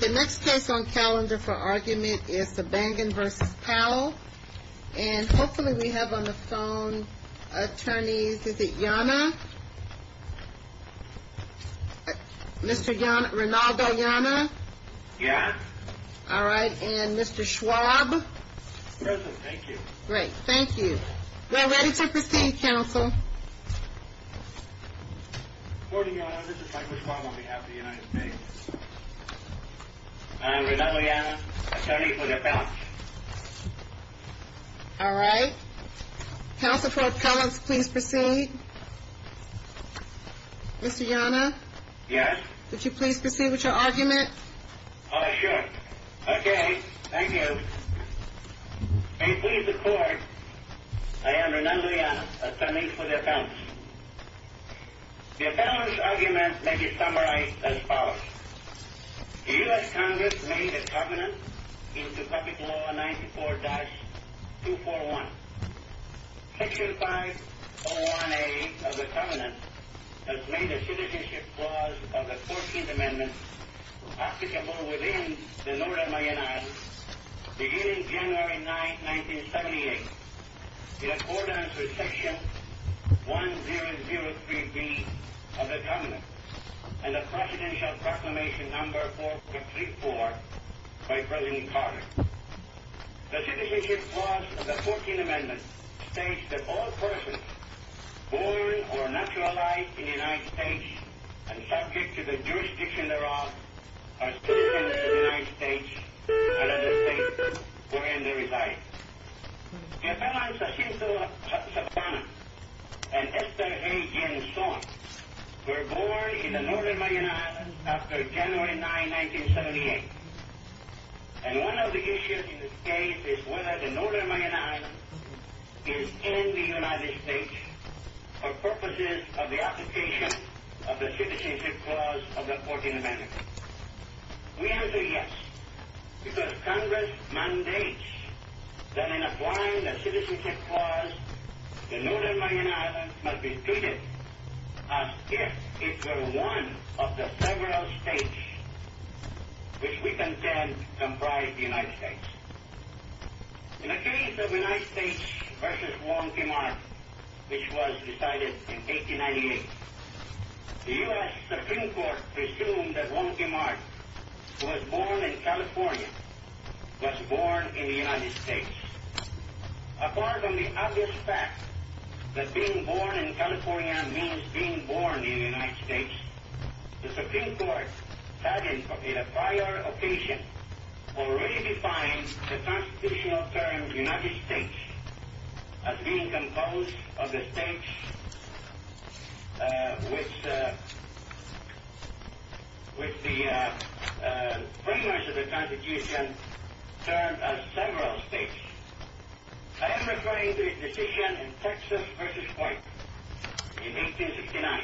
The next case on calendar for argument is the Bangan v. Powell, and hopefully we have on the phone attorneys, is it Yana? Mr. Rinaldo Yana? Yes. All right, and Mr. Schwab? Present, thank you. Great, thank you. We're ready to proceed, counsel. Good morning, Yana. This is Michael Schwab on behalf of the United States. I'm Rinaldo Yana, attorney for the Appellants. All right. Counsel for Appellants, please proceed. Mr. Yana? Yes. Would you please proceed with your argument? Oh, sure. Okay, thank you. May it please the Court, I am Rinaldo Yana, attorney for the Appellants. The Appellants' argument may be summarized as follows. The U.S. Congress made a covenant into Public Law 94-241. Section 501A of the covenant has made a citizenship clause of the 14th Amendment applicable within the Northern Mayonnaise beginning January 9, 1978 in accordance with Section 1003B of the covenant and the Presidential Proclamation No. 4434 by President Carter. The citizenship clause of the 14th Amendment states that all persons born or naturalized in the United States and subject to the jurisdiction thereof are citizens of the United States and other states wherein they reside. The Appellants Jacinto Sabatana and Esther A. Ginzón were born in the Northern Mayonnaise after January 9, 1978. And one of the issues in this case is whether the Northern Mayonnaise is in the United States for purposes of the application of the citizenship clause of the 14th Amendment. We answer yes, because Congress mandates that in applying the citizenship clause, the Northern Mayonnaise must be treated as if it were one of the several states which we contend comprise the United States. In the case of the United States v. Wong Kim Ark, which was decided in 1898, the U.S. Supreme Court presumed that Wong Kim Ark, who was born in California, was born in the United States. Apart from the obvious fact that being born in California means being born in the United States, the Supreme Court had in a prior occasion already defined the Constitutional term United States as being composed of the states which the premise of the Constitution termed as several states. I am referring to his decision in Texas v. White in 1869.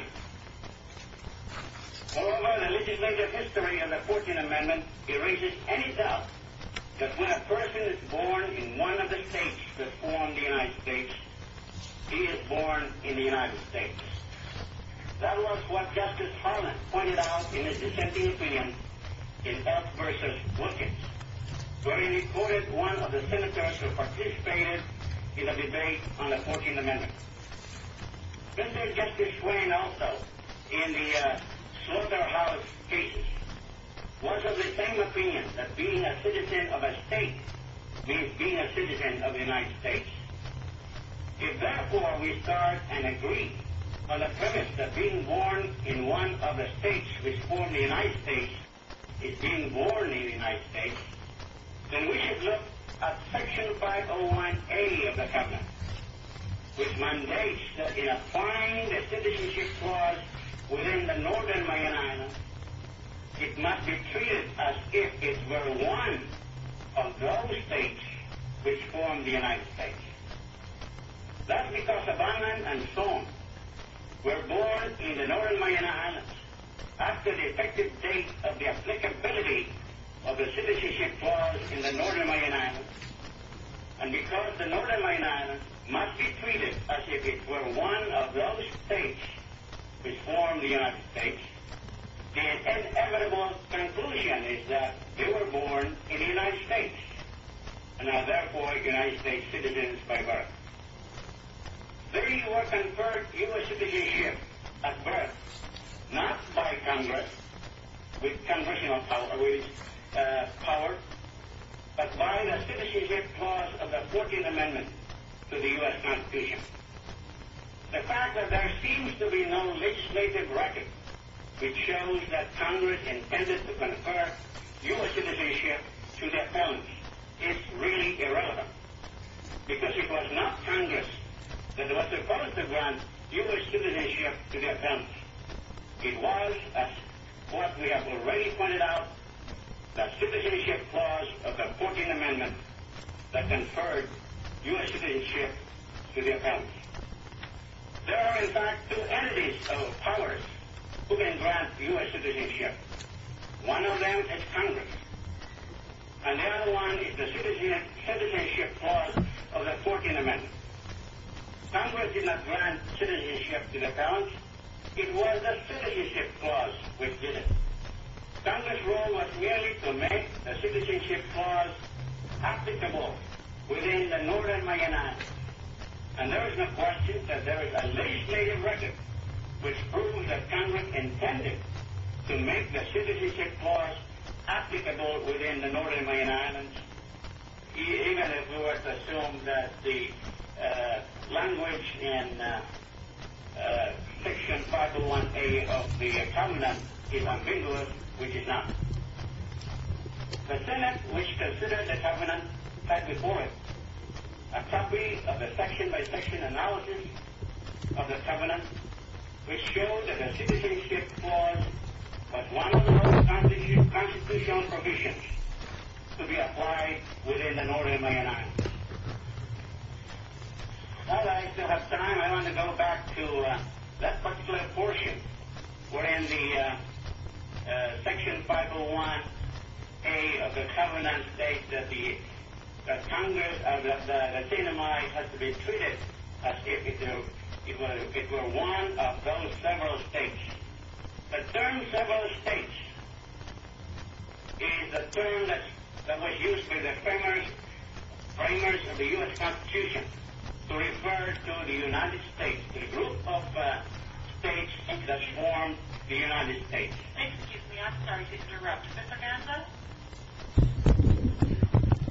Moreover, the legislative history of the 14th Amendment erases any doubt that when a person is born in one of the states that form the United States, he is born in the United States. That was what Justice Harlan pointed out in his dissenting opinion in Ark v. Wilkins, wherein he quoted one of the Senators who participated in a debate on the 14th Amendment. Senator Justice Swain also, in the Slaughterhouse cases, was of the same opinion that being a citizen of a state means being a citizen of the United States. If, therefore, we start and agree on the premise that being born in one of the states which form the United States is being born in the United States, then we should look at Section 501A of the Covenant, which mandates that in applying the Citizenship Clause within the Northern Mariana, it must be treated as if it were one of those states which form the United States. That's because Havana and Soho were born in the Northern Mariana after the effective date of the applicability of the Citizenship Clause in the Northern Mariana, and because the Northern Mariana must be treated as if it were one of those states which form the United States. The inevitable conclusion is that they were born in the United States and are therefore United States citizens by birth. They were conferred U.S. citizenship at birth not by Congress with Congressional power, but by the Citizenship Clause of the 14th Amendment to the U.S. Constitution. The fact that there seems to be no legislative record which shows that Congress intended to confer U.S. citizenship to their parents is really irrelevant, because it was not Congress that was supposed to grant U.S. citizenship to their parents. It was, as what we have already pointed out, the Citizenship Clause of the 14th Amendment that conferred U.S. citizenship to their parents. There are, in fact, two entities of powers who can grant U.S. citizenship. One of them is Congress, and the other one is the Citizenship Clause of the 14th Amendment. Congress did not grant citizenship to their parents. It was the Citizenship Clause which did it. Congress' role was merely to make the Citizenship Clause applicable within the Northern Mariana Islands, and there is no question that there is a legislative record which proves that Congress intended to make the Citizenship Clause applicable within the Northern Mariana Islands, even if we were to assume that the language in Section 501A of the covenant is ambiguous, which it is not. The Senate, which considered the covenant, had before it a copy of the section-by-section analysis of the covenant, which showed that the Citizenship Clause was one of the most constitutional provisions to be applied within the Northern Mariana Islands. While I still have time, I want to go back to that particular portion wherein the Section 501A of the covenant states that the Congress of the Latinas had to be treated as if it were one of those several states. The term several states is a term that was used by the framers of the U.S. Constitution to refer to the United States, the group of states that form the United States. Excuse me, I'm sorry to interrupt. Ms. Amanda?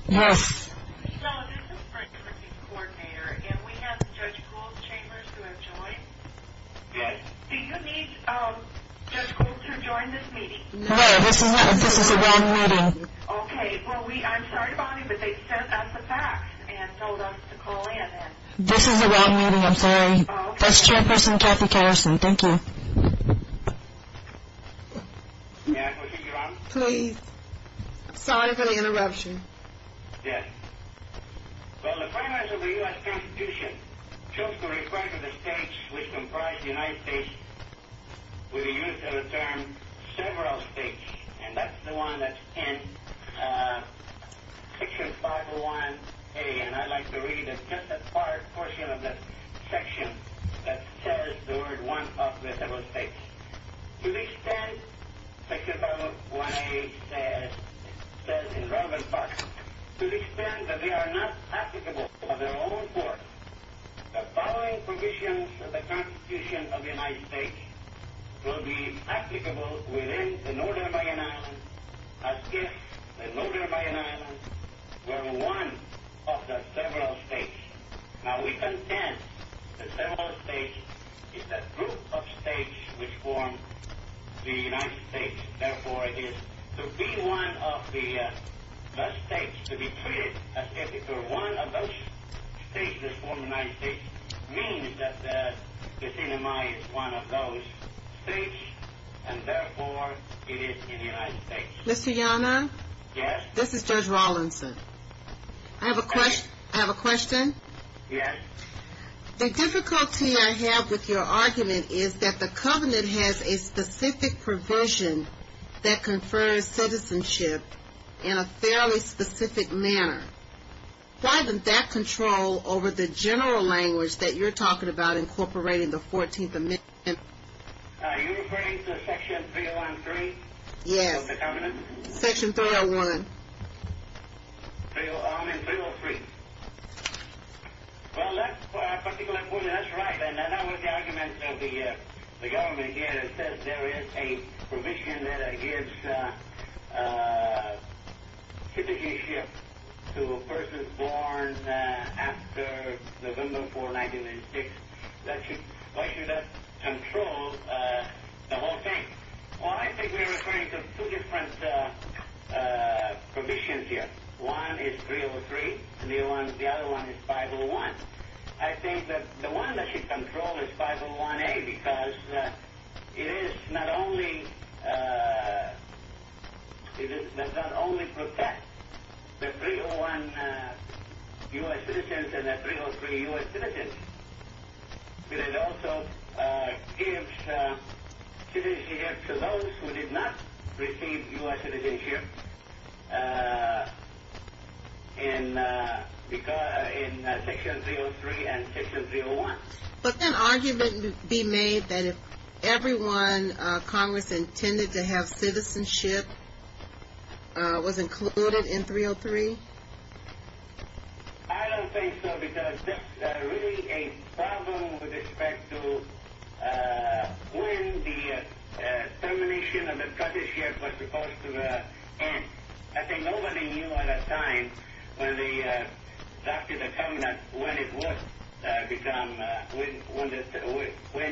Yes. So, this is for a committee coordinator, and we have Judge Gould Chambers who has joined. Yes. Do you need Judge Gould to join this meeting? No, this is a wrong meeting. Okay, well, I'm sorry to bother you, but they sent us a fax and told us to call in. This is a wrong meeting, I'm sorry. That's Chairperson Kathy Kerrison. Thank you. May I proceed, Your Honor? Please. Sorry for the interruption. Yes. Well, the framers of the U.S. Constitution chose to refer to the states which comprise the United States with the use of the term several states, and that's the one that's in Section 501A. And I'd like to read just a portion of that section that says the word one of the several states. To the extent, Section 501A says in relevant parts, to the extent that they are not applicable by their own force, the following provisions of the Constitution of the United States will be applicable within the Northern Valley and Islands as if the Northern Valley and Islands were one of the several states. Now, we contend that several states is a group of states which form the United States. Therefore, it is to be one of the states, to be treated as if it were one of those states that form the United States, means that the CNMI is one of those states, and therefore, it is in the United States. Mr. Yonah? Yes? This is Judge Rawlinson. Okay. I have a question. Yes. The difficulty I have with your argument is that the Covenant has a specific provision that confers citizenship in a fairly specific manner. Why didn't that control over the general language that you're talking about incorporating the 14th Amendment? Are you referring to Section 303? Yes. Of the Covenant? Section 301. I mean, 303. Well, that's particularly important. That's right. And I know what the argument of the government is. It says there is a provision that gives citizenship to a person born after November 4, 1996. Why should that control the whole thing? Well, I think we're referring to two different provisions here. One is 303, and the other one is 501. I think that the one that should control is 501A because it is not only, it does not only protect the 301 U.S. citizens and the 303 U.S. citizens, but it also gives citizenship to those who did not receive U.S. citizenship in Section 303 and Section 301. But can argument be made that if everyone Congress intended to have citizenship was included in 303? I don't think so because that's really a problem with respect to when the termination of the citizenship was supposed to end. I think nobody knew at that time when the, after the Covenant, when it would become, when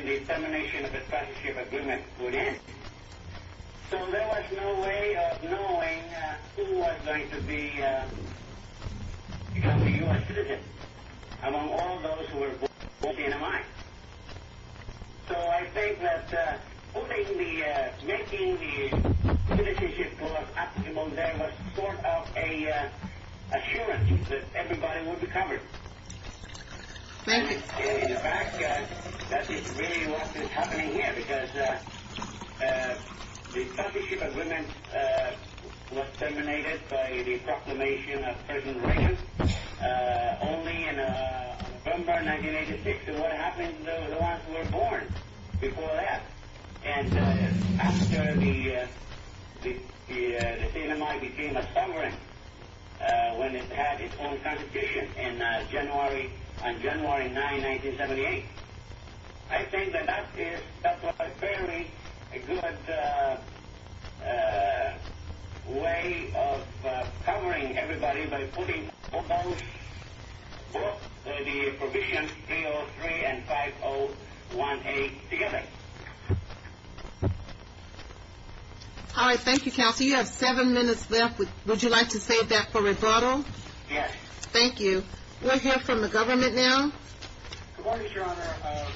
the termination of the citizenship agreement would end. So there was no way of knowing who was going to become a U.S. citizen among all those who were born within a month. So I think that making the citizenship law optimal there was sort of an assurance that everybody would be covered. Thank you. All right. Thank you, Counselor. You have seven minutes left. Would you like to save that for rebuttal? Yes. Thank you. We'll hear from the government now. Thank you. Thank you. Thank you.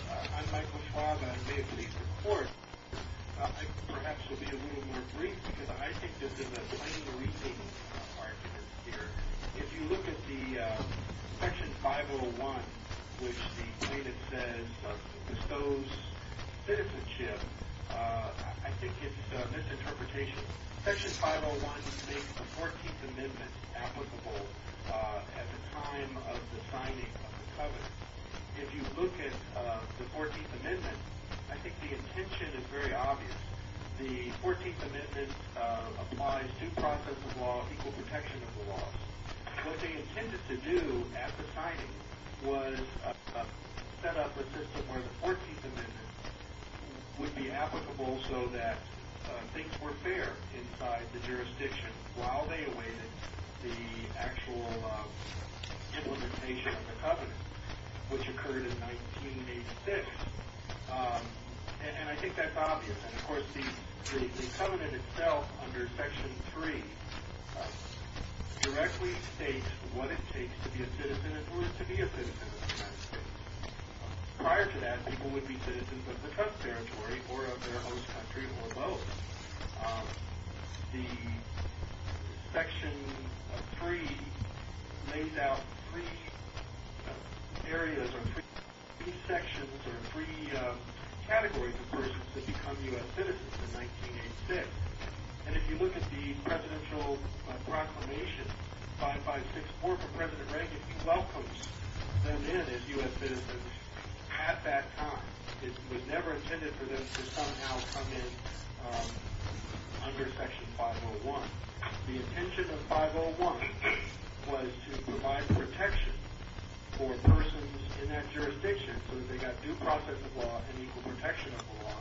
for persons in that jurisdiction so that they got due process of law and equal protection of the law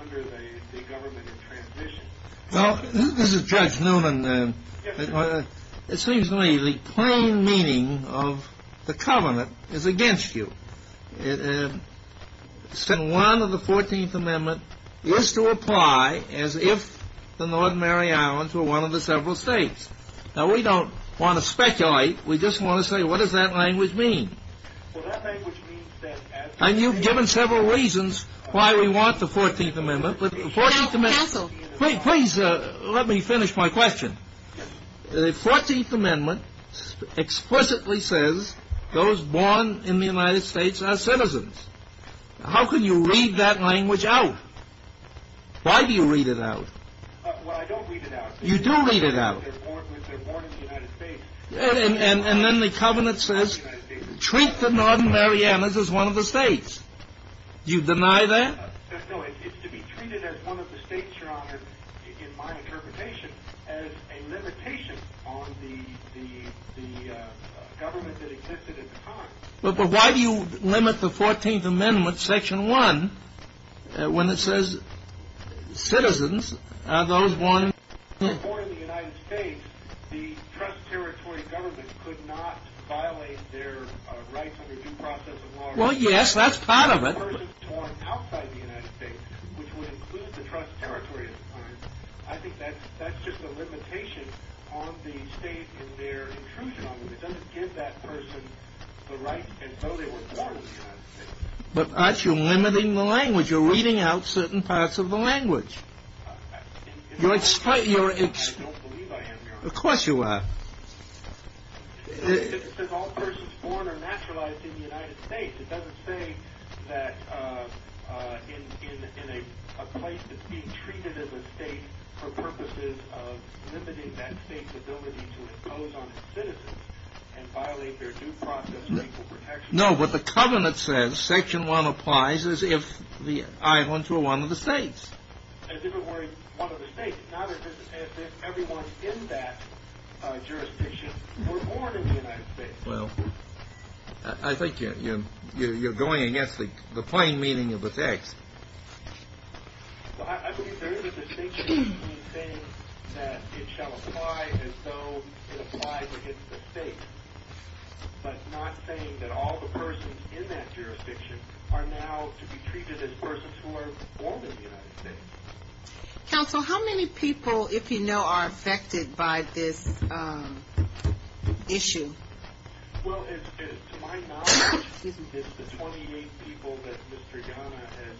under the government in transition. I just want to say, what does that language mean? And you've given several reasons why we want the 14th Amendment. But the 14th Amendment. Counsel. Please let me finish my question. The 14th Amendment explicitly says those born in the United States are citizens. How can you read that language out? Why do you read it out? Well, I don't read it out. You do read it out. They're born in the United States. And then the covenant says treat the Northern Marianas as one of the states. You deny that? No, it's to be treated as one of the states, Your Honor, in my interpretation, as a limitation on the government that existed at the time. But why do you limit the 14th Amendment, Section 1, when it says citizens are those born in the United States? The trust territory government could not violate their rights under due process of law. Well, yes, that's part of it. I think that's just a limitation on the state and their intrusion on them. It doesn't give that person the right to know they were born in the United States. But aren't you limiting the language? You're reading out certain parts of the language. I don't believe I am, Your Honor. Of course you are. It says all persons born are naturalized in the United States. It doesn't say that in a place that's being treated as a state for purposes of limiting that state's ability to impose on its citizens and violate their due process of equal protection. No, but the covenant says, Section 1 applies, as if the Iowans were one of the states. As if it were one of the states, not as if everyone in that jurisdiction were born in the United States. Well, I think you're going against the plain meaning of the text. Well, I believe there is a distinction between saying that it shall apply as though it applies against the state, but not saying that all the persons in that jurisdiction are now to be treated as persons who are born in the United States. Counsel, how many people, if you know, are affected by this issue? Well, to my knowledge, it's the 28 people that Mr. Ghana has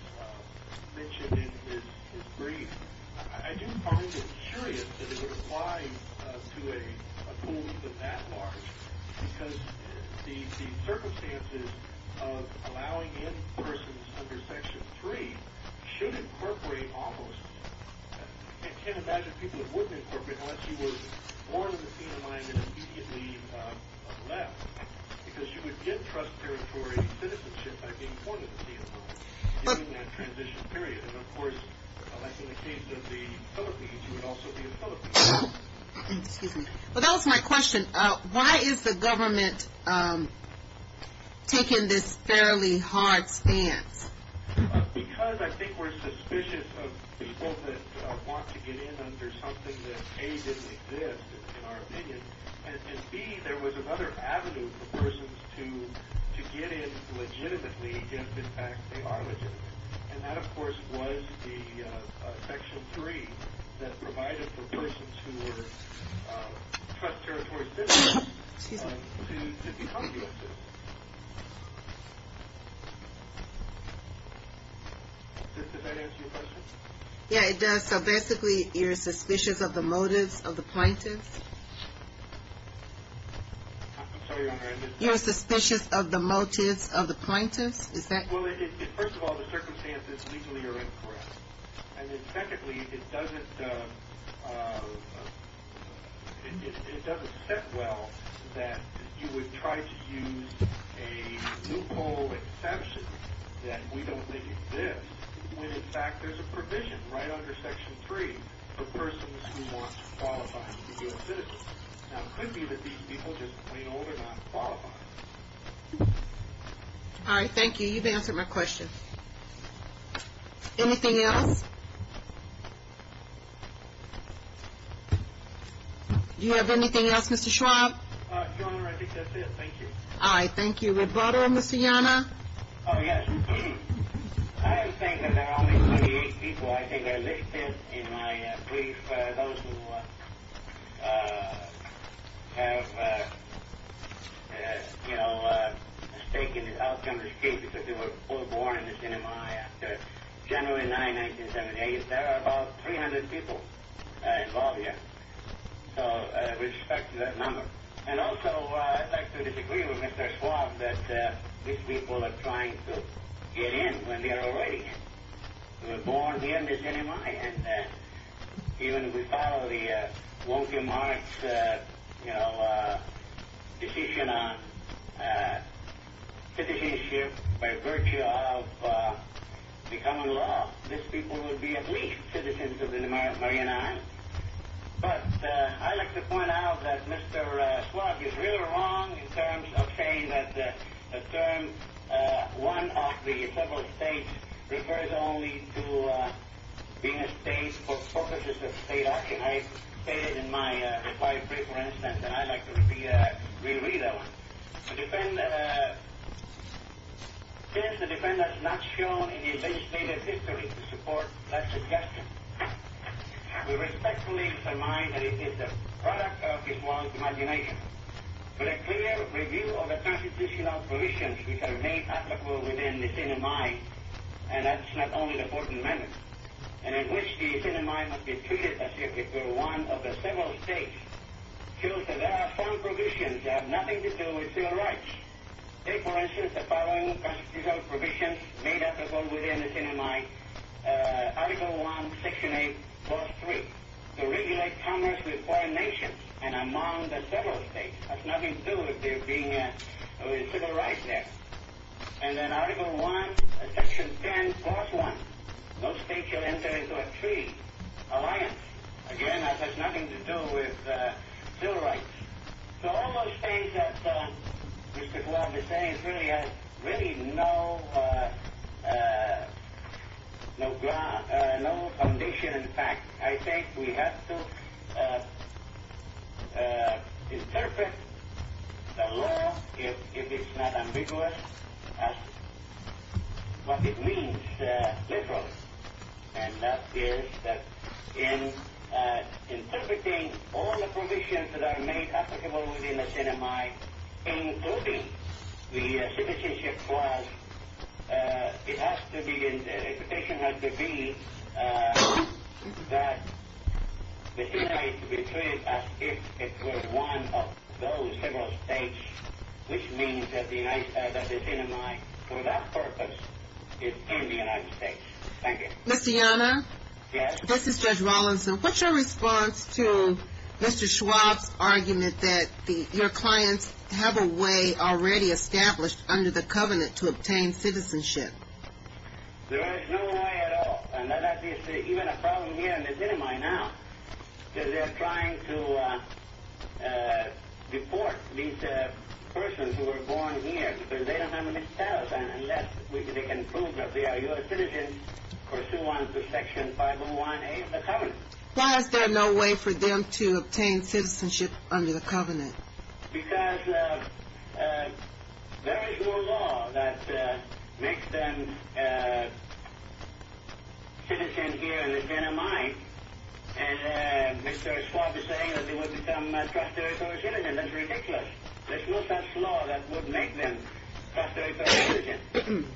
mentioned in his brief. I do find it curious that it would apply to a pool even that large, because the circumstances of allowing in persons under Section 3 should incorporate almost, I can't imagine people who wouldn't incorporate unless she was born in the CMI and immediately left, because you would get trust territory citizenship by being born in the CMI during that transition period. And, of course, like in the case of the Philippines, you would also be a Filipino. Excuse me. But that was my question. Why is the government taking this fairly hard stance? Because I think we're suspicious of people that want to get in under something that, A, didn't exist in our opinion, and, B, there was another avenue for persons to get in legitimately if, in fact, they are legitimate. And that, of course, was the Section 3 that provided for persons who were trust territory citizens to become U.S. citizens. Does that answer your question? Yes, it does. So basically you're suspicious of the motives of the plaintiffs? I'm sorry, Your Honor. You're suspicious of the motives of the plaintiffs? Well, first of all, the circumstances legally are incorrect. And then, secondly, it doesn't set well that you would try to use a new poll exception that we don't think exists when, in fact, there's a provision right under Section 3 for persons who want to qualify to be U.S. citizens. Now, it could be that these people just plain old are not qualified. All right, thank you. You've answered my question. Anything else? Do you have anything else, Mr. Schwab? Your Honor, I think that's it. Thank you. All right, thank you. Rebuttal, Mr. Yanna? Oh, yes. I am saying that there are only 28 people, I think, that are listed in my brief, those who have, you know, mistaken the outcome of this case, because they were all born in this NMI after January 9, 1978. There are about 300 people involved here, so with respect to that number. And also, I'd like to disagree with Mr. Schwab that these people are trying to get in when they are already in. They were born here in this NMI, and even if we follow the Walter Marx, you know, decision on citizenship by virtue of the common law, these people would be at least citizens of the United States. But I'd like to point out that Mr. Schwab is really wrong in terms of saying that a term, one of the several states, refers only to being a state for purposes of state action. I stated in my reply brief, for instance, and I'd like to repeat that, re-read that one. Since the defendant is not shown in his legislative history to support that suggestion, we respectfully remind that it is the product of his wild imagination. But a clear review of the constitutional provisions which are made applicable within this NMI, and that's not only the important matter, and in which the NMI must be treated as if it were one of the several states, shows that there are foreign provisions that have nothing to do with civil rights. Take, for instance, the following constitutional provisions made applicable within this NMI, Article 1, Section 8, Clause 3, to regulate commerce with foreign nations and among the several states. That's nothing to do with there being a civil right there. And then Article 1, Section 10, Clause 1, no state shall enter into a treaty, alliance. Again, that has nothing to do with civil rights. So all those states that Mr. Glove is saying really have no foundation in fact. I think we have to interpret the law, if it's not ambiguous, as what it means literally. And that is that in interpreting all the provisions that are made applicable within the NMI, including the citizenship clause, it has to be, the interpretation has to be, that the NMI is to be treated as if it were one of those several states, which means that the NMI, for that purpose, is in the United States. Thank you. Ms. Deanna? Yes? This is Judge Rawlinson. What's your response to Mr. Schwab's argument that your clients have a way already established under the covenant to obtain citizenship? There is no way at all. And that is even a problem here in the NMI now, because they are trying to deport these persons who were born here, because they don't have any status, unless they can prove that they are U.S. citizens pursuant to Section 501A of the covenant. Why is there no way for them to obtain citizenship under the covenant? Because there is no law that makes them citizens here in the NMI, and Mr. Schwab is saying that they would become trustee or citizen. That's ridiculous. There's no such law that would make them trustee or citizen.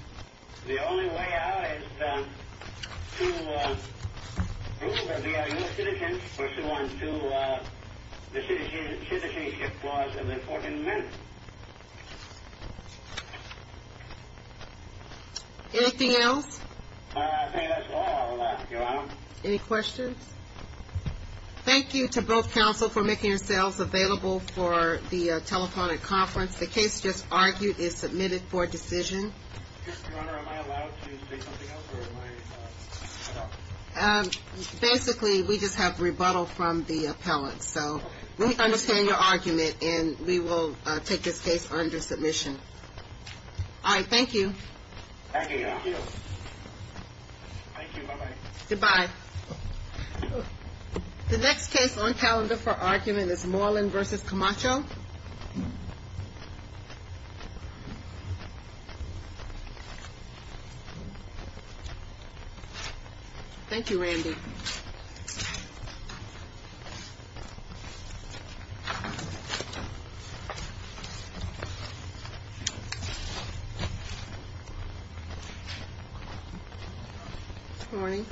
The only way out is to prove that they are U.S. citizens pursuant to the citizenship clause of the 14th Amendment. Anything else? I think that's all, Your Honor. Any questions? Thank you to both counsel for making yourselves available for the telephonic conference. The case just argued is submitted for decision. Your Honor, am I allowed to say something else, or am I not? Basically, we just have rebuttal from the appellant. So we understand your argument, and we will take this case under submission. All right, thank you. Thank you. Thank you. Bye-bye. Goodbye. The next case on calendar for argument is Moreland v. Camacho. Thank you, Randy. Good morning.